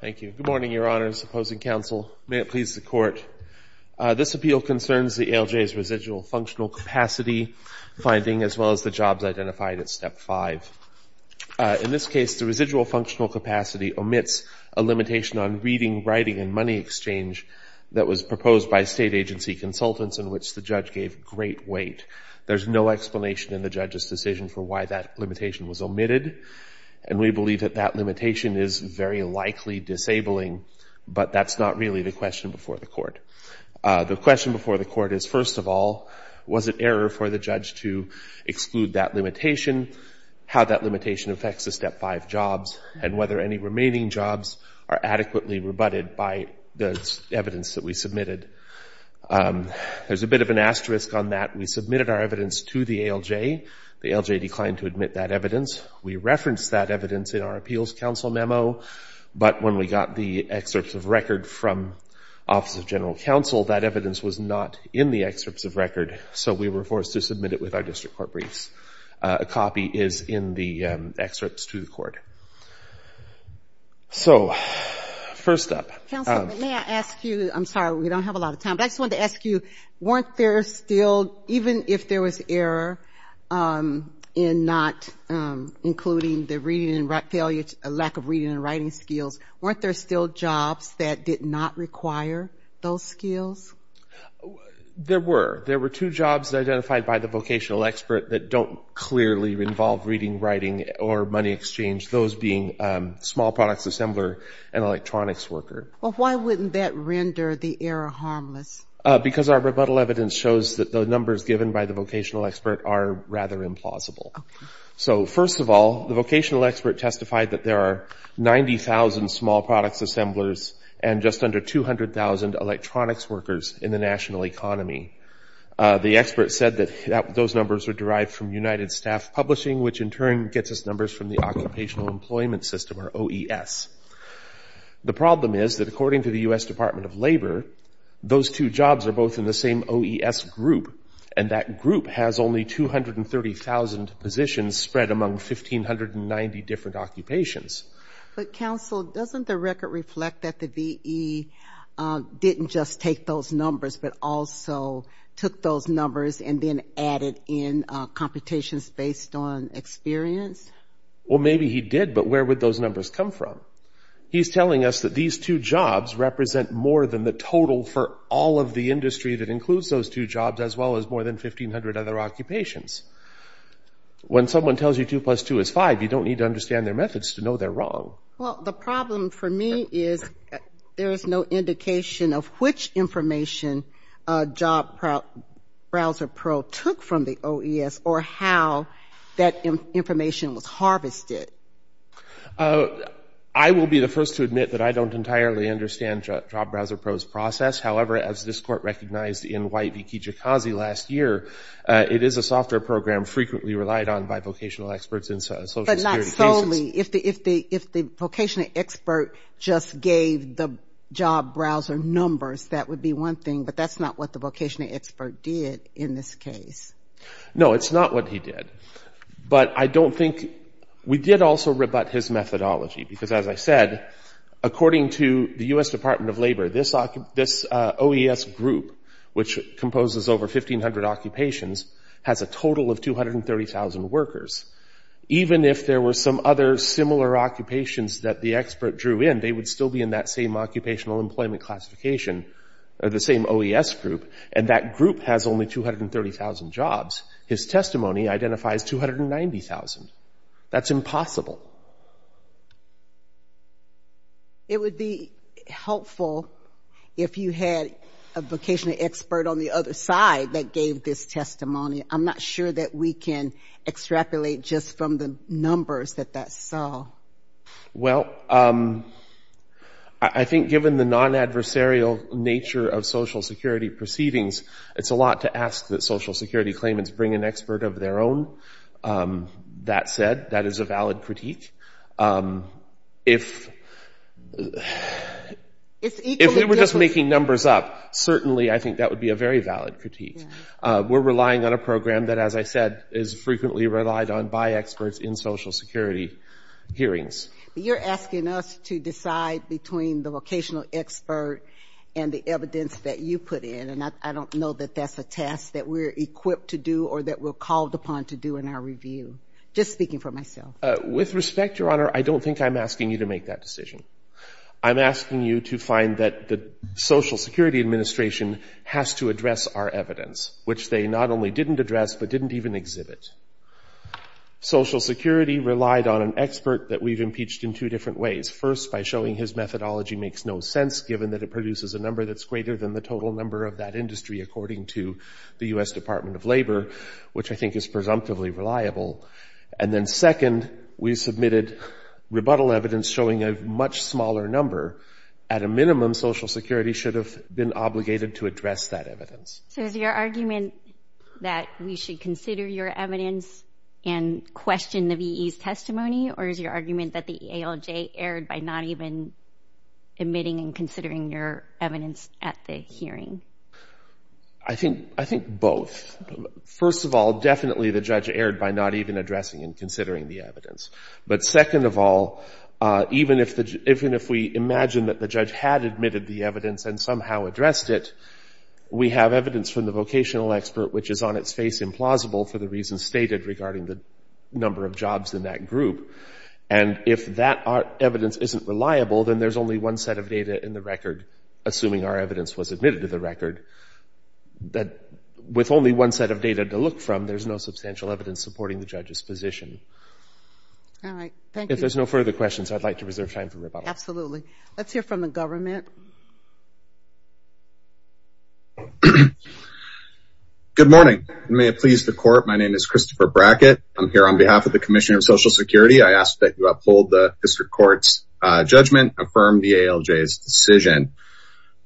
Thank you. Good morning, Your Honors. Opposing counsel, may it please the Court. This appeal concerns the ALJ's residual functional capacity finding as well as the jobs identified at Step 5. In this case, the residual functional capacity omits a limitation on reading, writing, and money exchange that was proposed by state agency consultants in which the judge gave great weight. There's no explanation in the judge's decision for why that limitation was omitted, and we believe that that limitation is very likely disabling, but that's not really the question before the Court. The question before the Court is, first of all, was it error for the judge to exclude that limitation, how that limitation affects the Step 5 jobs, and whether any remaining jobs are adequately rebutted by the evidence that we submitted. There's a bit of an asterisk on that. We submitted our evidence to the ALJ. The ALJ declined to admit that evidence. We referenced that evidence in our appeals counsel memo, but when we got the excerpts of record from Office of General Counsel, that evidence was not in the excerpts of record, so we were forced to submit it with our district court briefs. A copy is in the excerpts to the Court. So, first up. Counsel, may I ask you, I'm sorry, we don't have a lot of time, but I just wanted to ask you, weren't there still, even if there was error in not including the reading and writing, a lack of reading and writing skills, weren't there still jobs that did not require those skills? There were. There were two jobs identified by the vocational expert that don't clearly involve reading, writing, or money exchange, those being small products assembler and electronics worker. Well, why wouldn't that render the error harmless? Because our rebuttal evidence shows that the numbers given by the vocational expert are rather implausible. So, first of all, the vocational expert testified that there are 90,000 small products assemblers and just under 200,000 electronics workers in the national economy. The expert said that those numbers were derived from United Staff Publishing, which in turn gets us numbers from the Occupational Employment System, or OES. The problem is that according to the U.S. Department of Labor, those two jobs are both in the same OES group, and that group has only 230,000 positions spread among 1,590 different occupations. But, counsel, doesn't the record reflect that the V.E. didn't just take those numbers but also took those numbers and then added in computations based on experience? Well, maybe he did, but where would those numbers come from? He's telling us that these two jobs represent more than the total for all of the industry that includes those two jobs as well as more than 1,500 other occupations. When someone tells you 2 plus 2 is 5, you don't need to understand their methods to know they're wrong. Well, the problem for me is there is no indication of which information Job Browser Pro took from the OES or how that information was harvested. I will be the first to admit that I don't entirely understand Job Browser Pro's process. However, as this Court recognized in White v. Kijikazi last year, it is a software program frequently relied on by vocational experts in social security cases. But not solely. If the vocational expert just gave the job browser numbers, that would be one thing, but that's not what the vocational expert did in this case. No, it's not what he did. But I don't think—we did also rebut his methodology because, as I said, according to the U.S. Department of Labor, this OES group, which composes over 1,500 occupations, has a total of 230,000 workers. Even if there were some other similar occupations that the expert drew in, they would still be in that same occupational employment classification, the same OES group, and that group has only 230,000 jobs. His testimony identifies 290,000. That's impossible. It would be helpful if you had a vocational expert on the other side that gave this testimony. I'm not sure that we can extrapolate just from the numbers that that saw. Well, I think given the non-adversarial nature of Social Security proceedings, it's a lot to ask that Social Security claimants bring an expert of their own. That said, that is a valid critique. If they were just making numbers up, certainly I think that would be a very valid critique. We're relying on a program that, as I said, is frequently relied on by experts in Social Security hearings. You're asking us to decide between the vocational expert and the evidence that you put in, and I don't know that that's a task that we're equipped to do or that we're called upon to do in our review. Just speaking for myself. With respect, Your Honor, I don't think I'm asking you to make that decision. I'm asking you to find that the Social Security Administration has to address our evidence, which they not only didn't address but didn't even exhibit. Social Security relied on an expert that we've impeached in two different ways. First, by showing his methodology makes no sense, given that it produces a number that's greater than the total number of that industry, according to the U.S. Department of Labor, which I think is presumptively reliable. And then second, we submitted rebuttal evidence showing a much smaller number. At a minimum, Social Security should have been obligated to address that evidence. So is your argument that we should consider your evidence and question the V.E.'s testimony, or is your argument that the ALJ erred by not even admitting and considering your evidence at the hearing? I think both. First of all, definitely the judge erred by not even addressing and considering the evidence. But second of all, even if we imagine that the judge had admitted the evidence and somehow addressed it, we have evidence from the vocational expert which is on its face implausible for the reasons stated regarding the number of jobs in that group. And if that evidence isn't reliable, then there's only one set of data in the record, assuming our evidence was admitted to the record, that with only one set of data to look from, there's no substantial evidence supporting the judge's position. All right. Thank you. If there's no further questions, I'd like to reserve time for rebuttal. Absolutely. Let's hear from the government. Good morning. May it please the Court, my name is Christopher Brackett. I'm here on behalf of the Commissioner of Social Security. I ask that you uphold the District Court's judgment, affirm the ALJ's decision.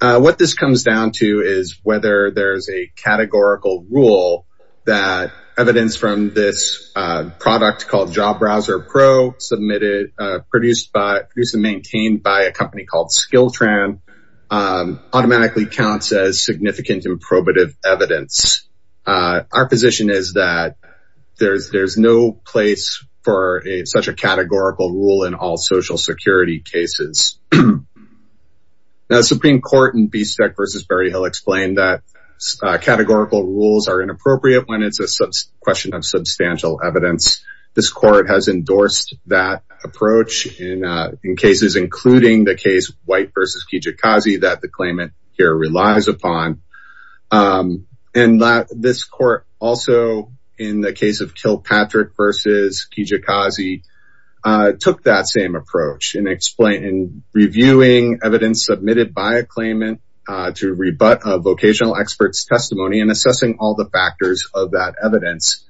What this comes down to is whether there's a categorical rule that evidence from this product called Job Browser Pro, submitted, produced and maintained by a company called Skiltran, automatically counts as significant improbative evidence. Our position is that there's no place for such a categorical rule in all Social Security cases. The Supreme Court in Bistek v. Berryhill explained that categorical rules are inappropriate when it's a question of substantial evidence. This court has endorsed that approach in cases, including the case White v. Kijikazi, that the claimant here relies upon. And this court also, in the case of Kilpatrick v. Kijikazi, took that same approach in reviewing evidence submitted by a claimant to rebut a vocational expert's testimony and assessing all the factors of that evidence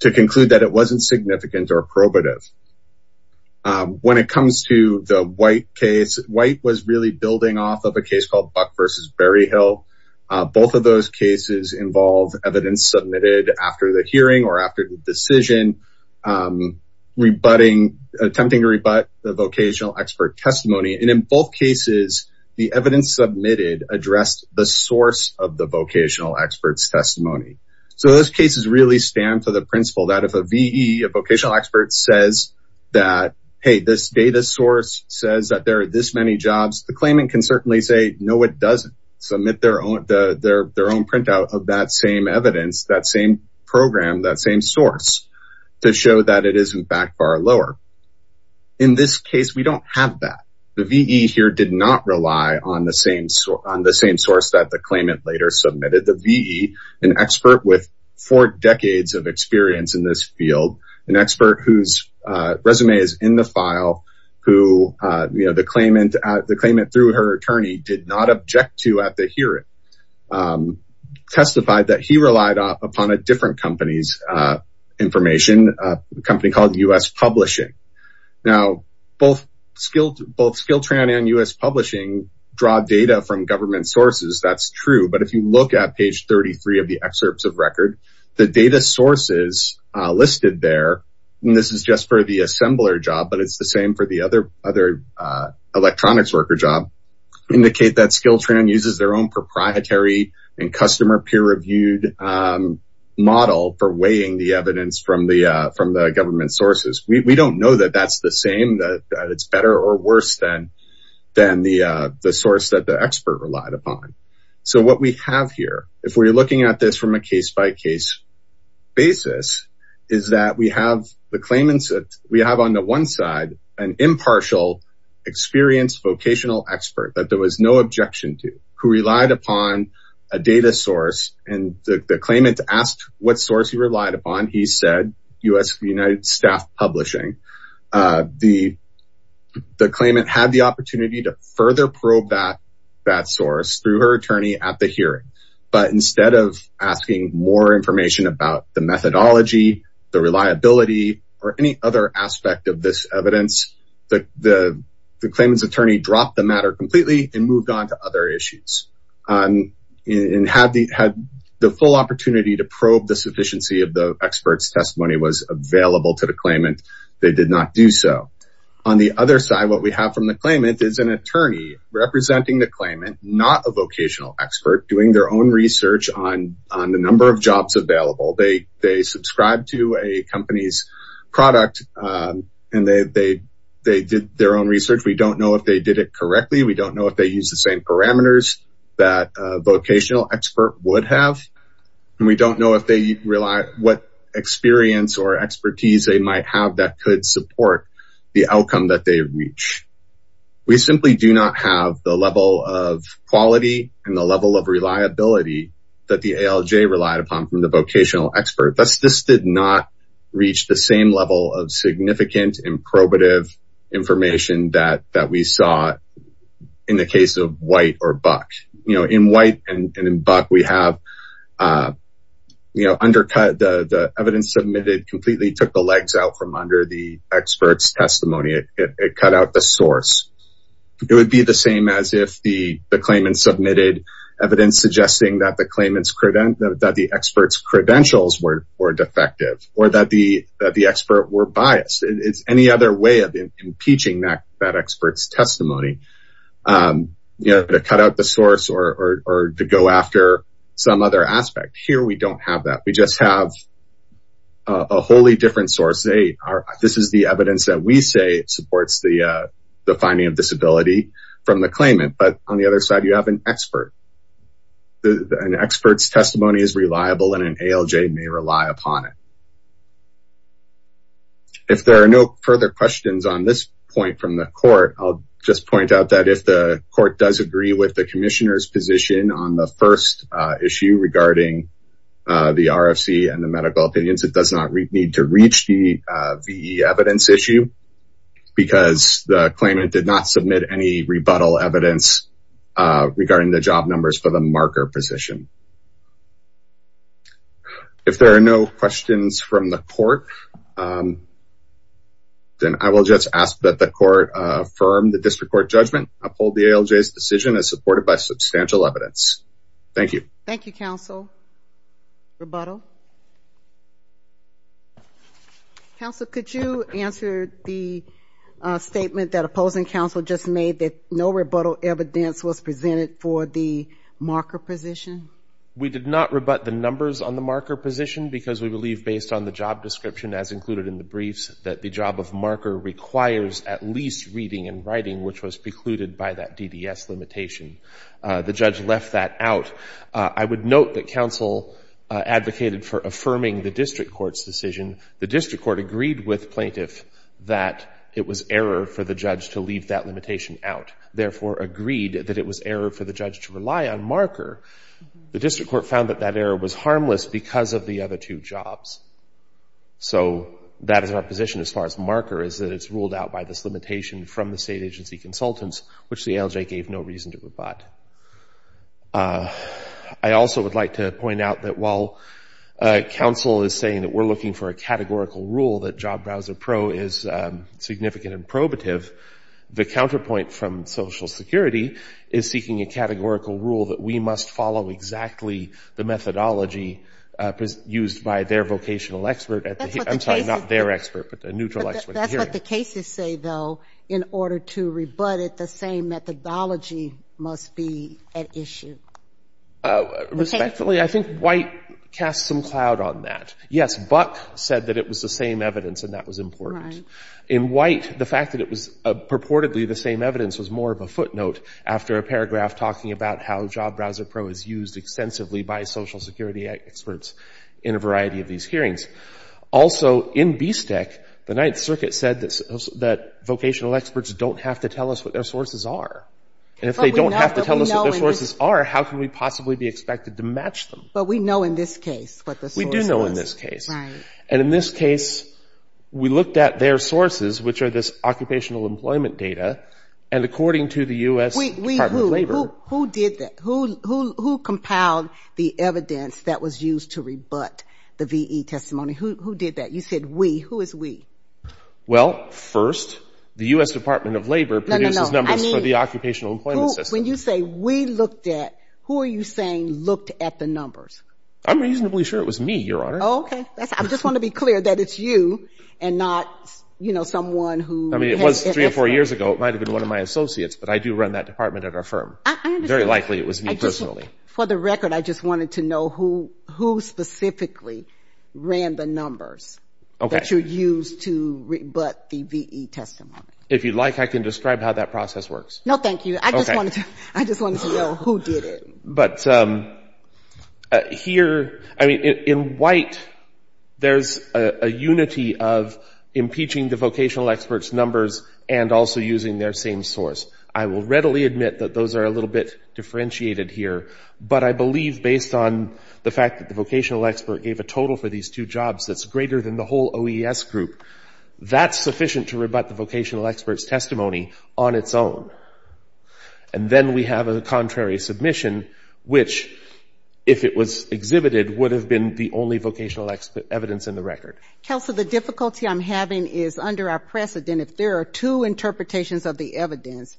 to conclude that it wasn't significant or probative. When it comes to the White case, White was really building off of a case called Buck v. Berryhill. Both of those cases involve evidence submitted after the hearing or after the decision attempting to rebut the vocational expert testimony. And in both cases, the evidence submitted addressed the source of the vocational expert's testimony. So those cases really stand for the principle that if a V.E., a vocational expert, says that, hey, this data source says that there are this many jobs, the claimant can certainly say, no, it doesn't, submit their own printout of that same evidence, that same program, that same source, to show that it isn't back bar lower. In this case, we don't have that. The V.E. here did not rely on the same source that the claimant later submitted. The V.E., an expert with four decades of experience in this field, an expert whose resume is in the file, who the claimant through her attorney did not object to at the hearing, testified that he relied upon a different company's information, a company called U.S. Publishing. Now, both Skilltrain and U.S. Publishing draw data from government sources. That's true. But if you look at page 33 of the excerpts of record, the data sources listed there, and this is just for the assembler job, but it's the same for the other electronics worker job, indicate that Skilltrain uses their own proprietary and customer peer-reviewed model for weighing the evidence from the government sources. We don't know that that's the same, that it's better or worse than the source that the expert relied upon. So what we have here, if we're looking at this from a case-by-case basis, is that we have on the one side an impartial, experienced, vocational expert that there was no objection to, who relied upon a data source, and the claimant asked what source he relied upon. He said U.S. United Staff Publishing. The claimant had the opportunity to further probe that source through her attorney at the hearing, but instead of asking more information about the methodology, the reliability, or any other aspect of this evidence, the claimant's attorney dropped the matter completely and moved on to other issues and had the full opportunity to probe the sufficiency of the expert's testimony was available to the claimant. They did not do so. On the other side, what we have from the claimant is an attorney representing the claimant, not a vocational expert, doing their own research on the number of jobs available. They subscribe to a company's product, and they did their own research. We don't know if they did it correctly. We don't know if they used the same parameters that a vocational expert would have, and we don't know what experience or expertise they might have that could support the outcome that they reach. We simply do not have the level of quality and the level of reliability that the ALJ relied upon from the vocational expert. This did not reach the same level of significant and probative information that we saw in the case of White or Buck. In White and in Buck, the evidence submitted completely took the legs out from under the expert's testimony. It cut out the source. It would be the same as if the claimant submitted evidence suggesting that the expert's credentials were defective or that the expert were biased. It's any other way of impeaching that expert's testimony to cut out the source or to go after some other aspect. Here, we don't have that. We just have a wholly different source. This is the evidence that we say supports the finding of disability from the claimant. But on the other side, you have an expert. An expert's testimony is reliable, and an ALJ may rely upon it. If there are no further questions on this point from the court, I'll just point out that if the court does agree with the commissioner's position on the first issue regarding the RFC and the medical opinions, it does not need to reach the VE evidence issue because the claimant did not submit any rebuttal evidence regarding the job numbers for the marker position. If there are no questions from the court, then I will just ask that the court affirm the district court judgment, uphold the ALJ's decision as supported by substantial evidence. Thank you. Thank you, counsel. Rebuttal? Counsel, could you answer the statement that opposing counsel just made, that no rebuttal evidence was presented for the marker position? We did not rebut the numbers on the marker position because we believe, based on the job description as included in the briefs, that the job of marker requires at least reading and writing, which was precluded by that DDS limitation. The judge left that out. I would note that counsel advocated for affirming the district court's decision. The district court agreed with plaintiff that it was error for the judge to leave that limitation out, therefore agreed that it was error for the judge to rely on marker. The district court found that that error was harmless because of the other two jobs. So that is our position as far as marker is that it's ruled out by this limitation from the state agency consultants, which the ALJ gave no reason to rebut. I also would like to point out that while counsel is saying that we're looking for a categorical rule, that Job Browser Pro is significant and probative, the counterpoint from Social Security is seeking a categorical rule that we must follow exactly the methodology used by their vocational expert at the hearing. I'm sorry, not their expert, but a neutral expert at the hearing. What the cases say, though, in order to rebut it, the same methodology must be at issue. Respectfully, I think White casts some cloud on that. Yes, Buck said that it was the same evidence and that was important. Right. In White, the fact that it was purportedly the same evidence was more of a footnote after a paragraph talking about how Job Browser Pro is used extensively by Social Security experts in a variety of these hearings. Also, in BSTEC, the Ninth Circuit said that vocational experts don't have to tell us what their sources are. And if they don't have to tell us what their sources are, how can we possibly be expected to match them? But we know in this case what the source was. We do know in this case. Right. And in this case, we looked at their sources, which are this occupational employment data, and according to the U.S. Department of Labor — Who did that? You said we. Who is we? Well, first, the U.S. Department of Labor produces numbers for the occupational employment system. When you say we looked at, who are you saying looked at the numbers? I'm reasonably sure it was me, Your Honor. Okay. I just want to be clear that it's you and not, you know, someone who — I mean, it was three or four years ago. It might have been one of my associates, but I do run that department at our firm. I understand. Very likely it was me personally. For the record, I just wanted to know who specifically ran the numbers that you used to rebut the V.E. testimony. If you'd like, I can describe how that process works. No, thank you. I just wanted to know who did it. But here — I mean, in white, there's a unity of impeaching the vocational experts' numbers and also using their same source. I will readily admit that those are a little bit differentiated here. But I believe, based on the fact that the vocational expert gave a total for these two jobs that's greater than the whole OES group, that's sufficient to rebut the vocational expert's testimony on its own. And then we have a contrary submission, which, if it was exhibited, would have been the only vocational evidence in the record. Counsel, the difficulty I'm having is under our precedent, if there are two interpretations of the evidence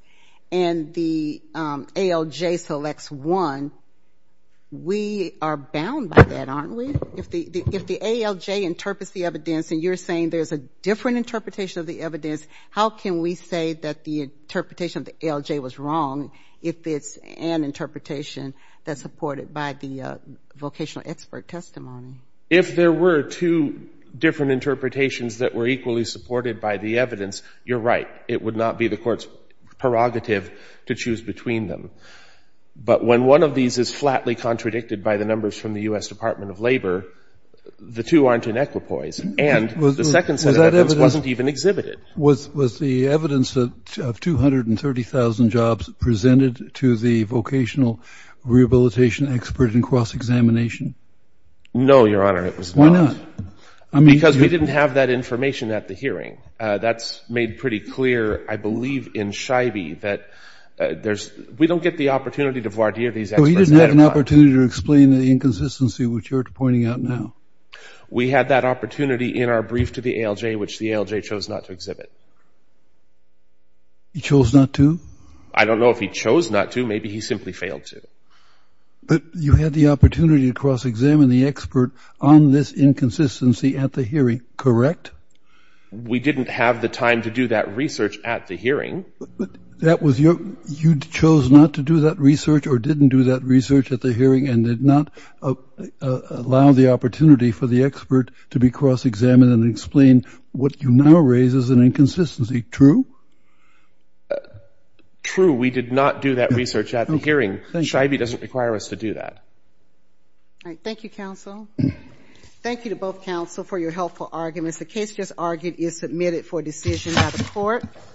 and the ALJ selects one, we are bound by that, aren't we? If the ALJ interprets the evidence and you're saying there's a different interpretation of the evidence, how can we say that the interpretation of the ALJ was wrong if it's an interpretation that's supported by the vocational expert testimony? If there were two different interpretations that were equally supported by the evidence, you're right. It would not be the Court's prerogative to choose between them. But when one of these is flatly contradicted by the numbers from the U.S. Department of Labor, the two aren't in equipoise. And the second set of evidence wasn't even exhibited. Was the evidence of 230,000 jobs presented to the vocational rehabilitation expert in cross-examination? No, Your Honor, it was not. Why not? Because we didn't have that information at the hearing. That's made pretty clear, I believe, in Scheibe, that we don't get the opportunity to voir dire these experts. So he didn't have an opportunity to explain the inconsistency, which you're pointing out now. We had that opportunity in our brief to the ALJ, which the ALJ chose not to exhibit. He chose not to? I don't know if he chose not to. Maybe he simply failed to. But you had the opportunity to cross-examine the expert on this inconsistency at the hearing, correct? We didn't have the time to do that research at the hearing. But that was your – you chose not to do that research or didn't do that research at the hearing and did not allow the opportunity for the expert to be cross-examined and explain what you now raise as an inconsistency, true? Scheibe doesn't require us to do that. All right. Thank you, counsel. Thank you to both counsel for your helpful arguments. The case just argued is submitted for decision by the court.